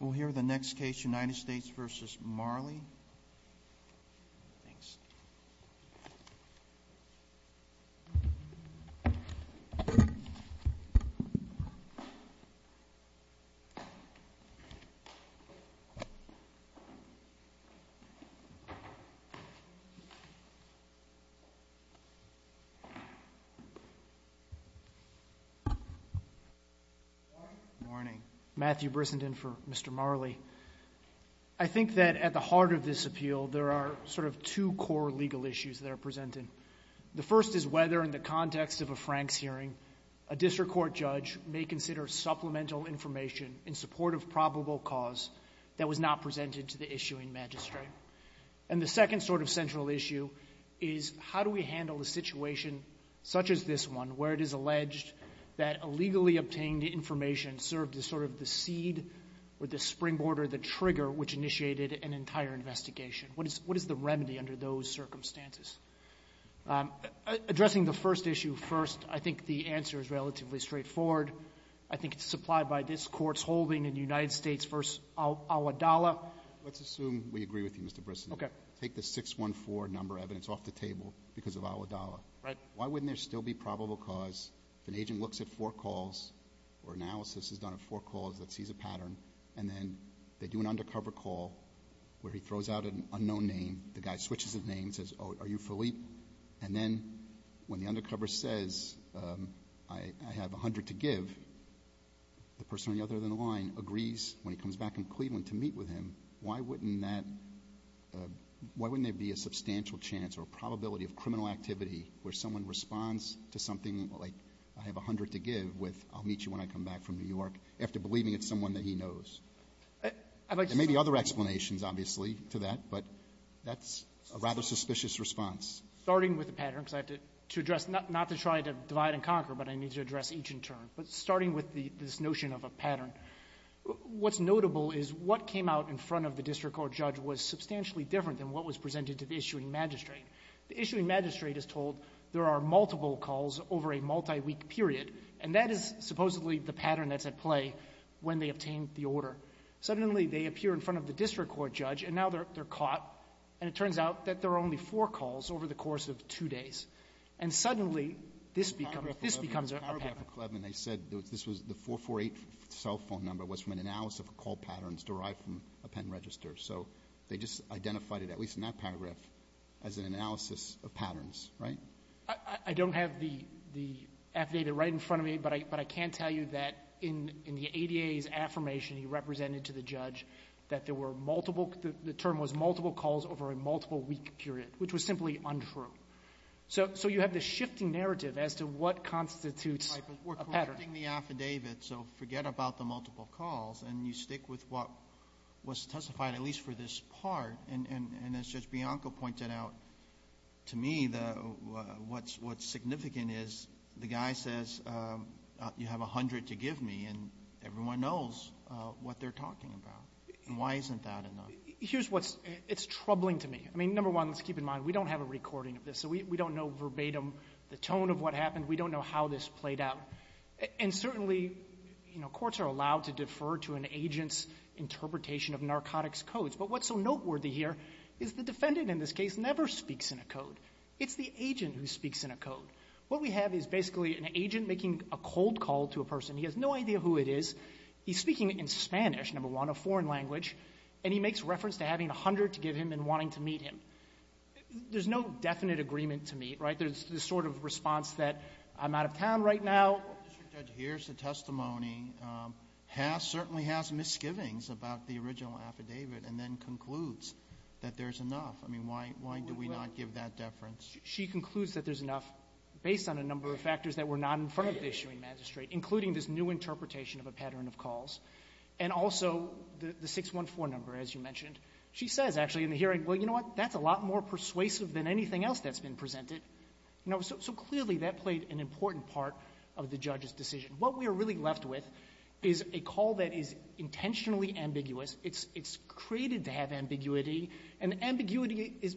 We'll hear the next case, United States v. Marley. Matthew Brissenden for Mr. Marley. I think that at the heart of this appeal, there are sort of two core legal issues that are presented. The first is whether, in the context of a Franks hearing, a district court judge may consider supplemental information in support of probable cause that was not presented to the issuing magistrate. And the second sort of central issue is how do we handle a situation such as this one, where it is alleged that illegally obtained information served as sort of the seed or the springboard or the trigger which initiated an entire investigation. What is the remedy under those circumstances? Addressing the first issue first, I think the answer is relatively straightforward. I think it's supplied by this Court's holding in the United States v. Al-Adalah. Let's assume we agree with you, Mr. Brissenden. Okay. Take the 614 number evidence off the table because of Al-Adalah. Right. Why wouldn't there still be probable cause if an agent looks at four calls or analysis is done of four calls that sees a pattern, and then they do an undercover call where he throws out an unknown name, the guy switches his name, says, oh, are you Philippe? And then when the undercover says, I have 100 to give, the person on the other end of the line agrees, when he comes back from Cleveland, to meet with him. Why wouldn't that, why wouldn't there be a substantial chance or probability of criminal activity where someone responds to something like I have 100 to give with I'll meet you when I come back from New York after believing it's someone that he knows? There may be other explanations, obviously, to that, but that's a rather suspicious response. Starting with the pattern, because I have to address not to try to divide and conquer, but I need to address each in turn. But starting with the, this notion of a pattern, what's notable is what came out in front of the district court judge was substantially different than what was presented to the issuing magistrate. The issuing magistrate is told there are multiple calls over a multi-week period, and that is supposedly the pattern that's at play when they obtain the order. Suddenly, they appear in front of the district court judge, and now they're caught, and it turns out that there are only four calls over the course of two days. And suddenly, this becomes a pattern. Alito, paragraph 11, they said this was the 448 cell phone number was from an analysis of call patterns derived from a pen register. So they just identified it, at least in that paragraph, as an analysis of patterns, right? I don't have the affidavit right in front of me, but I can tell you that in the ADA's affirmation, he represented to the judge that there were multiple, the term was multiple calls over a multiple-week period, which was simply untrue. So you have this shifting narrative as to what constitutes a pattern. Right. But we're correcting the affidavit, so forget about the multiple calls. And you stick with what was testified, at least for this part. And as Judge Bianco pointed out, to me, what's significant is the guy says, you have 100 to give me, and everyone knows what they're talking about. And why isn't that enough? Here's what's troubling to me. I mean, number one, let's keep in mind, we don't have a recording of this. So we don't know verbatim the tone of what happened. We don't know how this played out. And certainly, you know, courts are allowed to defer to an agent's interpretation of narcotics codes. But what's so noteworthy here is the defendant, in this case, never speaks in a code. It's the agent who speaks in a code. What we have is basically an agent making a cold call to a person. He has no idea who it is. He's speaking in Spanish, number one, a foreign language, and he makes reference to having 100 to give him and wanting to meet him. There's no definite agreement to meet, right? There's this sort of response that I'm out of town right now. Mr. Judge, here's the testimony. The testimony has, certainly has, misgivings about the original affidavit and then concludes that there's enough. I mean, why do we not give that deference? She concludes that there's enough based on a number of factors that were not in front of the issuing magistrate, including this new interpretation of a pattern of calls and also the 614 number, as you mentioned. She says, actually, in the hearing, well, you know what, that's a lot more persuasive than anything else that's been presented. So clearly, that played an important part of the judge's decision. What we are really left with is a call that is intentionally ambiguous. It's created to have ambiguity, and ambiguity is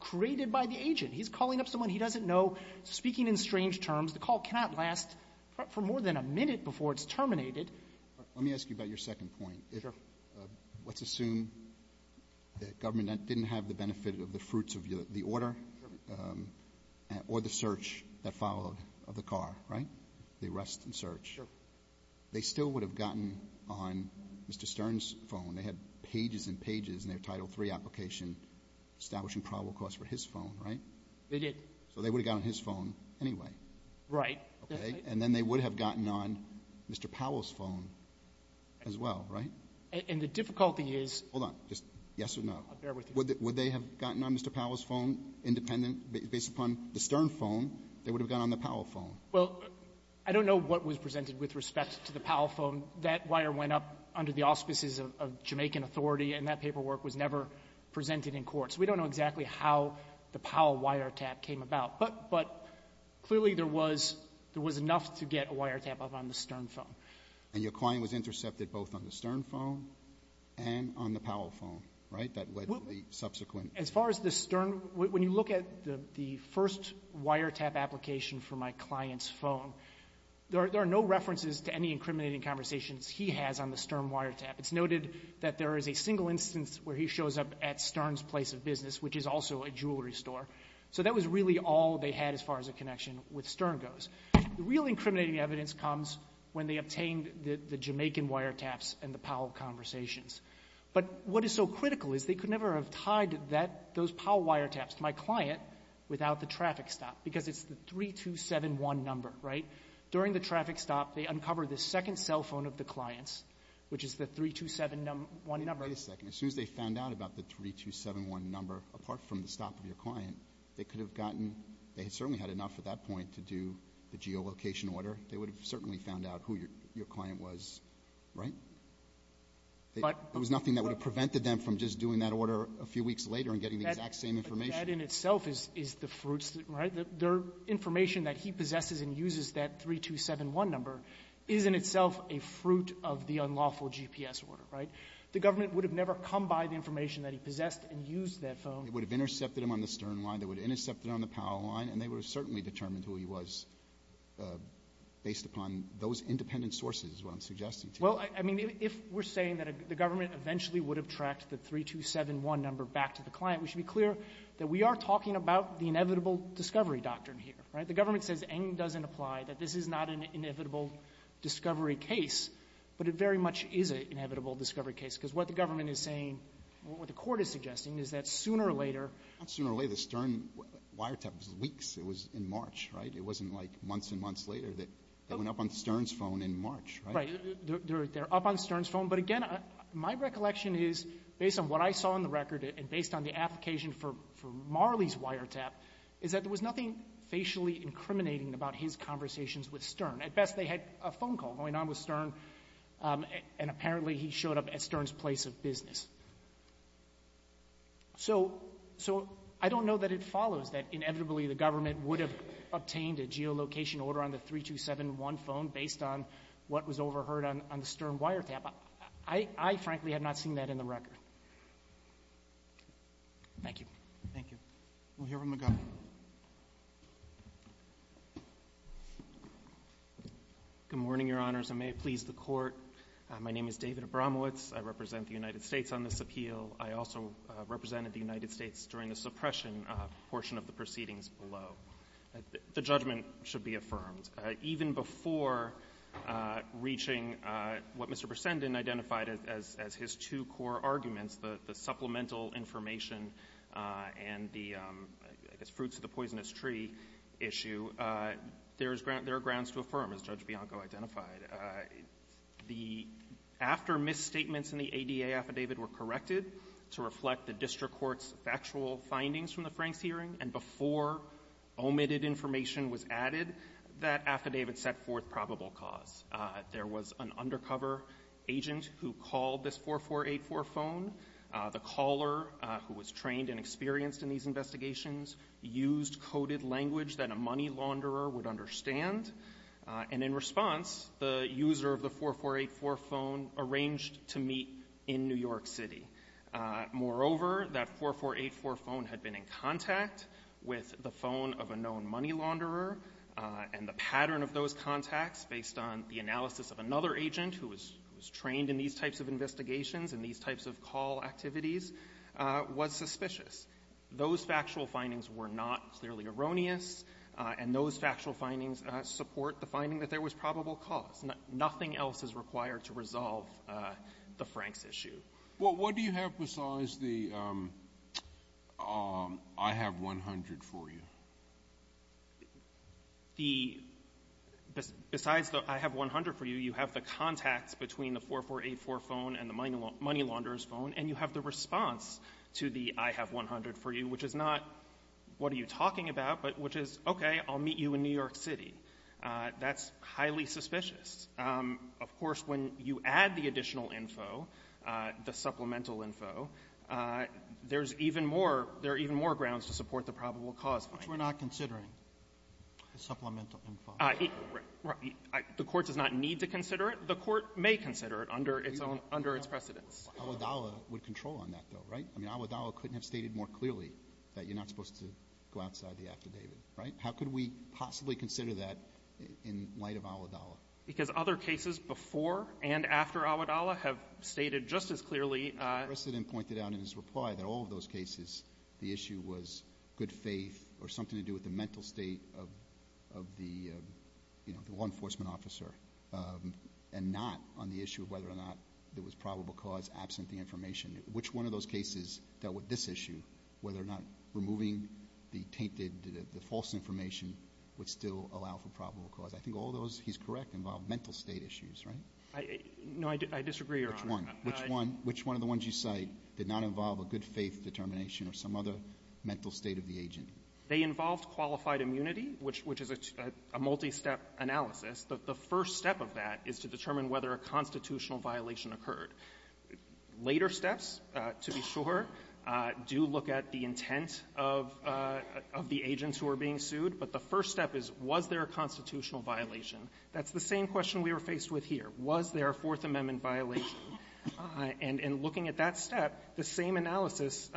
created by the agent. He's calling up someone he doesn't know, speaking in strange terms. The call cannot last for more than a minute before it's terminated. Alitono, let me ask you about your second point. If let's assume the government didn't have the benefit of the fruits of the order or the search that followed of the car, right? The arrest and search. Sure. They still would have gotten on Mr. Stern's phone. They had pages and pages in their Title III application establishing probable cause for his phone, right? They did. So they would have gotten on his phone anyway. Right. Okay. And then they would have gotten on Mr. Powell's phone as well, right? And the difficulty is — Hold on. Just yes or no. I'll bear with you. Would they have gotten on Mr. Powell's phone independent? Based upon the Stern phone, they would have gotten on the Powell phone. Well, I don't know what was presented with respect to the Powell phone. That wire went up under the auspices of Jamaican authority, and that paperwork was never presented in court. So we don't know exactly how the Powell wiretap came about. But clearly there was enough to get a wiretap up on the Stern phone. And your client was intercepted both on the Stern phone and on the Powell phone, right, that led to the subsequent — As far as the Stern — when you look at the first wiretap application for my client's phone, there are no references to any incriminating conversations he has on the Stern wiretap. It's noted that there is a single instance where he shows up at Stern's place of business, which is also a jewelry store. So that was really all they had as far as a connection with Stern goes. The real incriminating evidence comes when they obtained the Jamaican wiretaps and the Powell conversations. But what is so critical is they could never have tied that — those Powell wiretaps to my client without the traffic stop, because it's the 3271 number, right? During the traffic stop, they uncover the second cell phone of the client's, which is the 3271 number. Wait a second. As soon as they found out about the 3271 number, apart from the stop of your client, they could have gotten — they certainly had enough at that point to do the geolocation order. They would have certainly found out who your client was, right? But — There was nothing that would have prevented them from just doing that order a few weeks later and getting the exact same information. But that in itself is the fruits, right? Their information that he possesses and uses that 3271 number is in itself a fruit of the unlawful GPS order, right? The government would have never come by the information that he possessed and used that phone. They would have intercepted him on the Stern line. They would have intercepted him on the Powell line. sources is what I'm suggesting to you. Well, I mean, if we're saying that the government eventually would have tracked the 3271 number back to the client, we should be clear that we are talking about the inevitable discovery doctrine here, right? The government says Ng doesn't apply, that this is not an inevitable discovery case, but it very much is an inevitable discovery case, because what the government is saying, what the Court is suggesting, is that sooner or later — Not sooner or later. The Stern wiretap was weeks. It was in March, right? It wasn't like months and months later that they went up on Stern's phone in March, right? Right. They're up on Stern's phone. But again, my recollection is, based on what I saw on the record and based on the application for Marley's wiretap, is that there was nothing facially incriminating about his conversations with Stern. At best, they had a phone call going on with Stern, and apparently he showed up at Stern's place of business. So I don't know that it follows that inevitably the government would have obtained a geolocation order on the 3271 phone based on what was overheard on the Stern wiretap. I frankly have not seen that in the record. Thank you. Thank you. We'll hear from McGovern. Good morning, Your Honors, and may it please the Court. My name is David Abramowitz. I represent the United States on this appeal. I also represented the United States during the suppression portion of the proceedings below. The judgment should be affirmed. Even before reaching what Mr. Bresendon identified as his two core arguments, the supplemental information and the, I guess, fruits of the poisonous tree issue, there's grounds to affirm, as Judge Bianco identified. The after-misstatements in the ADA affidavit were corrected to reflect the district factual findings from the Franks hearing, and before omitted information was added, that affidavit set forth probable cause. There was an undercover agent who called this 4484 phone. The caller, who was trained and experienced in these investigations, used coded language that a money launderer would understand. And in response, the user of the 4484 phone arranged to meet in New York City. Moreover, that 4484 phone had been in contact with the phone of a known money launderer, and the pattern of those contacts, based on the analysis of another agent who was trained in these types of investigations and these types of call activities, was suspicious. Those factual findings were not clearly erroneous, and those factual findings support the finding that there was probable cause. Nothing else is required to resolve the Franks issue. Well, what do you have besides the I have 100 for you? The — besides the I have 100 for you, you have the contacts between the 4484 phone and the money launderer's phone, and you have the response to the I have 100 for you, which is not what are you talking about, but which is, okay, I'll meet you in New York City. That's highly suspicious. Of course, when you add the additional info, the supplemental info, there's even more — there are even more grounds to support the probable cause finding. But we're not considering the supplemental info. The Court does not need to consider it. The Court may consider it under its own — under its precedents. Alitala would control on that, though, right? I mean, Alitala couldn't have stated more clearly that you're not supposed to go outside the act of David, right? How could we possibly consider that in light of Alitala? Because other cases before and after Alitala have stated just as clearly — The President pointed out in his reply that all of those cases, the issue was good faith or something to do with the mental state of the law enforcement officer and not on the issue of whether or not there was probable cause absent the information. Which one of those cases dealt with this issue, whether or not removing the tainted — the tainted information would still allow for probable cause? I think all those, he's correct, involve mental state issues, right? No, I disagree, Your Honor. Which one? Which one? Which one of the ones you cite did not involve a good faith determination or some other mental state of the agent? They involved qualified immunity, which is a multi-step analysis. The first step of that is to determine whether a constitutional violation occurred. Later steps, to be sure, do look at the intent of the agents who are being sued. But the first step is, was there a constitutional violation? That's the same question we were faced with here. Was there a Fourth Amendment violation? And in looking at that step, the same analysis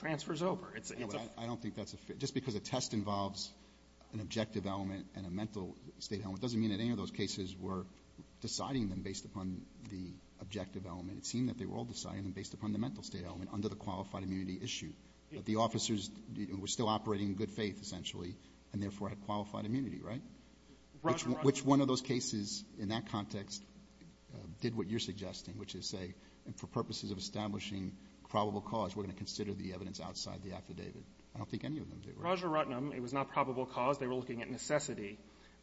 transfers over. It's a — I don't think that's a — just because a test involves an objective element and a mental state element doesn't mean that any of those cases were deciding them based upon the objective element. It seemed that they were all deciding them based upon the mental state element under the qualified immunity issue, that the officers were still operating in good faith, essentially, and therefore had qualified immunity, right? Which one of those cases in that context did what you're suggesting, which is say, for purposes of establishing probable cause, we're going to consider the evidence outside the affidavit? I don't think any of them did. Roger Ruttenham, it was not probable cause. They were looking at necessity.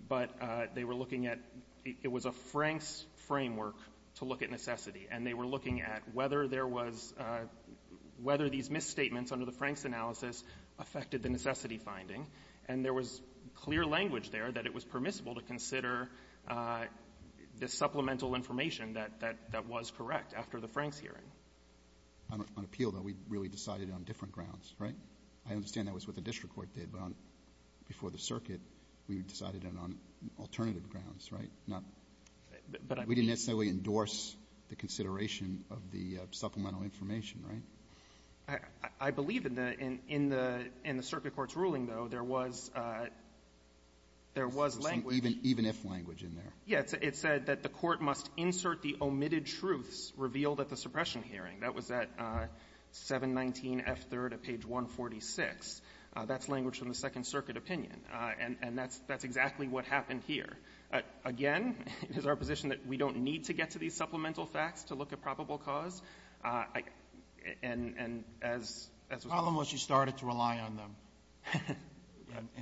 But they were looking at — it was a Franks framework to look at necessity. And they were looking at whether there was — whether these misstatements under the Franks analysis affected the necessity finding. And there was clear language there that it was permissible to consider the supplemental information that — that was correct after the Franks hearing. On appeal, though, we really decided it on different grounds, right? I understand that was what the district court did, but on — before the circuit, we decided it on alternative grounds, right? Not — But I mean — We didn't necessarily endorse the consideration of the supplemental information, right? I believe in the — in the circuit court's ruling, though, there was — there was language — Even if language in there. Yes. It said that the court must insert the omitted truths revealed at the suppression hearing. That was at 719F3rd of page 146. That's language from the Second Circuit opinion. And that's exactly what happened here. Again, it is our position that we don't need to get to these supplemental facts to look at probable cause. And as — The problem was you started to rely on them.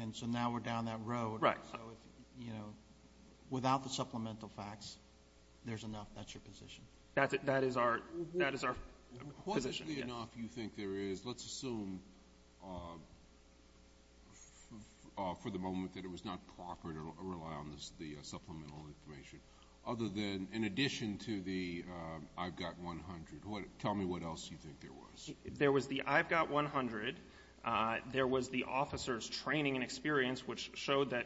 And so now we're down that road. Right. So if, you know, without the supplemental facts, there's enough. That's your position. That's — that is our — that is our position, yes. Fortunately enough, you think there is — let's assume for the moment that it was not proper to rely on this — the supplemental information, other than — in the case of the I've Got 100, what — tell me what else you think there was. There was the I've Got 100. There was the officer's training and experience, which showed that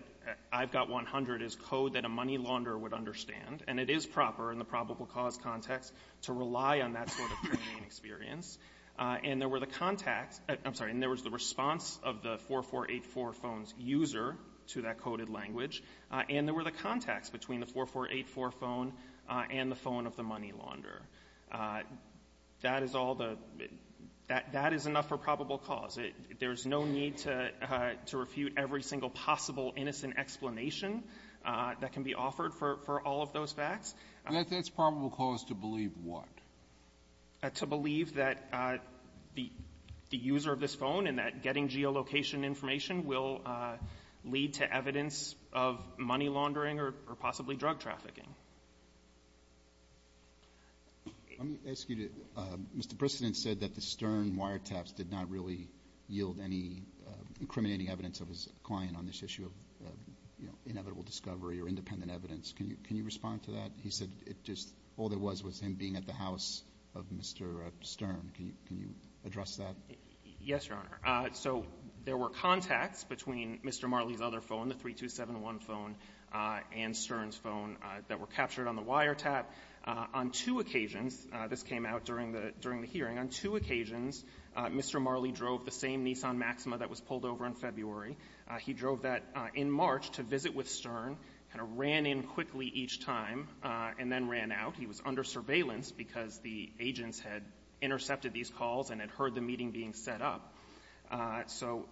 I've Got 100 is code that a money launderer would understand. And it is proper in the probable cause context to rely on that sort of training and experience. And there were the contacts — I'm sorry, and there was the response of the 4484 phone's user to that coded language. And there were the contacts between the 4484 phone and the phone of the money launderer. That is all the — that is enough for probable cause. There's no need to refute every single possible innocent explanation that can be offered for all of those facts. That's probable cause to believe what? To believe that the user of this phone and that getting geolocation information will lead to evidence of money laundering or possibly drug trafficking. Let me ask you to — Mr. Brisseton said that the Stern wiretaps did not really yield any incriminating evidence of his client on this issue of, you know, inevitable discovery or independent evidence. Can you respond to that? He said it just — all there was was him being at the house of Mr. Stern. Can you address that? Yes, Your Honor. So there were contacts between Mr. Marley's other phone, the 3271 phone, and Stern's phone that were captured on the wiretap. On two occasions — this came out during the — during the hearing — on two occasions, Mr. Marley drove the same Nissan Maxima that was pulled over in February. He drove that in March to visit with Stern, kind of ran in quickly each time, and then ran out. He was under surveillance because the agents had intercepted these calls and had heard the meeting being set up. So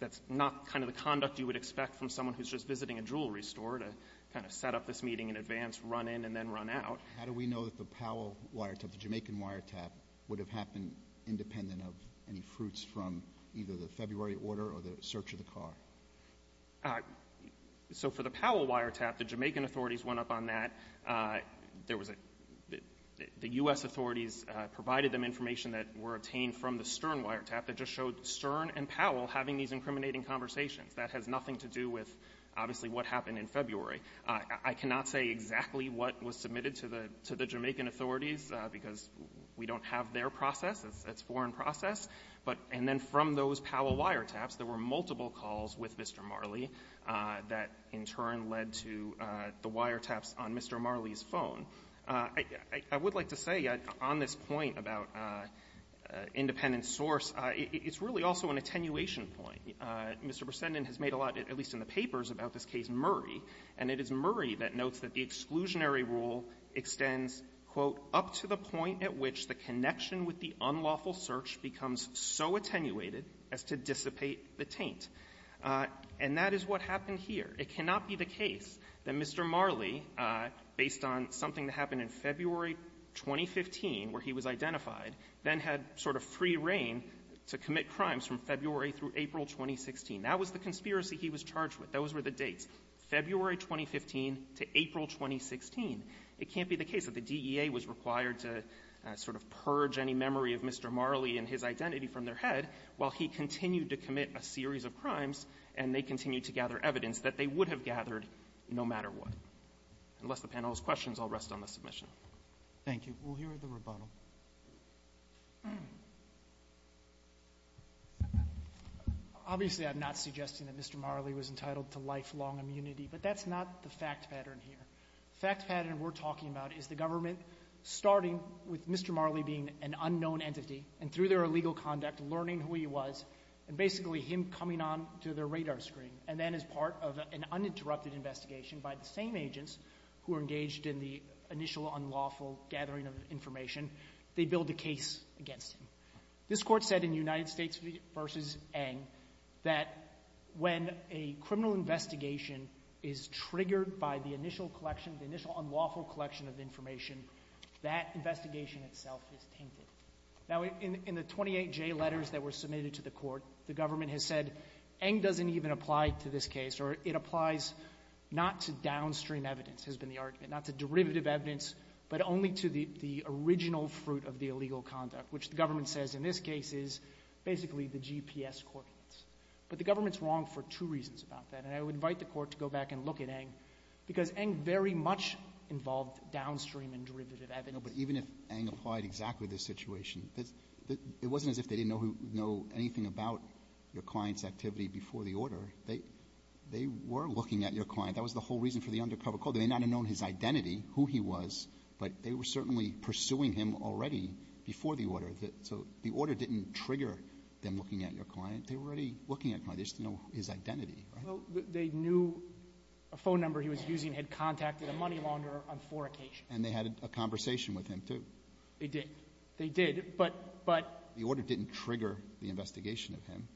that's not kind of the conduct you would expect from someone who's just visiting a jewelry store to kind of set up this meeting in advance, run in, and then run out. How do we know that the Powell wiretap, the Jamaican wiretap, would have happened independent of any fruits from either the February order or the search of the car? So for the Powell wiretap, the Jamaican authorities went up on that. There was a — the U.S. authorities provided them information that were obtained from the Stern wiretap that just showed Stern and Powell having these incriminating conversations. That has nothing to do with, obviously, what happened in February. I cannot say exactly what was submitted to the — to the Jamaican authorities because we don't have their process. It's a foreign process. But — and then from those Powell wiretaps, there were multiple calls with Mr. Marley that, in turn, led to the wiretaps on Mr. Marley's I would like to say on this point about independent source, it's really also an attenuation point. Mr. Bresendon has made a lot, at least in the papers, about this case Murray. And it is Murray that notes that the exclusionary rule extends, quote, up to the point at which the connection with the unlawful search becomes so attenuated as to dissipate the taint. And that is what happened here. It cannot be the case that Mr. Marley, based on something that happened in February 2015, where he was identified, then had sort of free reign to commit crimes from February through April 2016. That was the conspiracy he was charged with. Those were the dates, February 2015 to April 2016. It can't be the case that the DEA was required to sort of purge any memory of Mr. Marley and his identity from their head while he continued to commit a series of crimes, and they continued to gather evidence that they would have gathered no matter what. Unless the panel has questions, I'll rest on the submission. Roberts. Thank you. We'll hear the rebuttal. Obviously, I'm not suggesting that Mr. Marley was entitled to lifelong immunity, but that's not the fact pattern here. The fact pattern we're talking about is the government, starting with Mr. Marley being an unknown entity, and through their illegal conduct, learning who he was, and basically him coming on to their radar screen, and then as part of an uninterrupted investigation by the same agents who were engaged in the initial unlawful gathering of information, they build a case against him. This court said in United States v. Eng that when a criminal investigation is triggered by the initial collection, the initial unlawful collection of information, that investigation itself is tainted. Now, in the 28 J letters that were submitted to the Court, the government has said Eng doesn't even apply to this case, or it applies not to downstream evidence, has been the argument, not to derivative evidence, but only to the original fruit of the illegal conduct, which the government says in this case is basically the GPS coordinates. But the government's wrong for two reasons about that, and I would invite the Court to go back and look at Eng, because Eng very much involved downstream and derivative evidence. No, but even if Eng applied exactly this situation, it wasn't as if they didn't know anything about your client's activity before the order. They were looking at your client. That was the whole reason for the undercover call. They may not have known his identity, who he was, but they were certainly pursuing him already before the order. So the order didn't trigger them looking at your client. They were already looking at your client. They just didn't know his identity, right? Well, they knew a phone number he was using had contacted a money launder on four occasions. And they had a conversation with him, too. They did. They did. But the order didn't trigger him. It didn't trigger the investigation of him.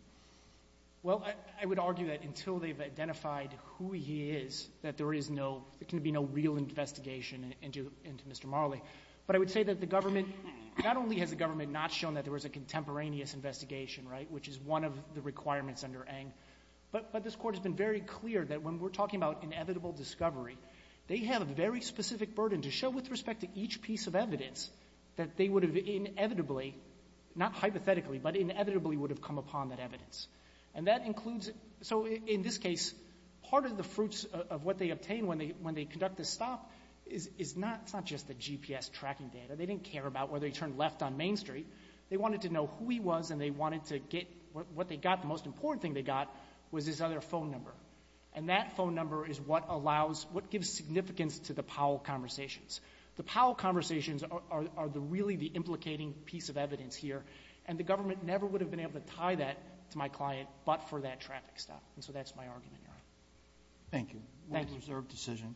Well, I would argue that until they've identified who he is, that there is no — there can be no real investigation into Mr. Marley. But I would say that the government — not only has the government not shown that there was a contemporaneous investigation, right, which is one of the requirements under Eng, but this Court has been very clear that when we're talking about inevitable discovery, they have a very specific burden to show with respect to each piece of evidence that they would have inevitably — not hypothetically, but inevitably would have come upon that evidence. And that includes — so in this case, part of the fruits of what they obtained when they — when they conduct this stop is not — it's not just the GPS tracking data. They didn't care about whether he turned left on Main Street. They wanted to know who he was, and they wanted to get — what they got, the most important thing they got was his other phone number. And that phone number is what allows — what gives significance to the Powell conversations. The Powell conversations are the — really the implicating piece of evidence here, and the government never would have been able to tie that to my client but for that traffic stop. And so that's my argument here. Thank you. Thank you. Well-preserved decision.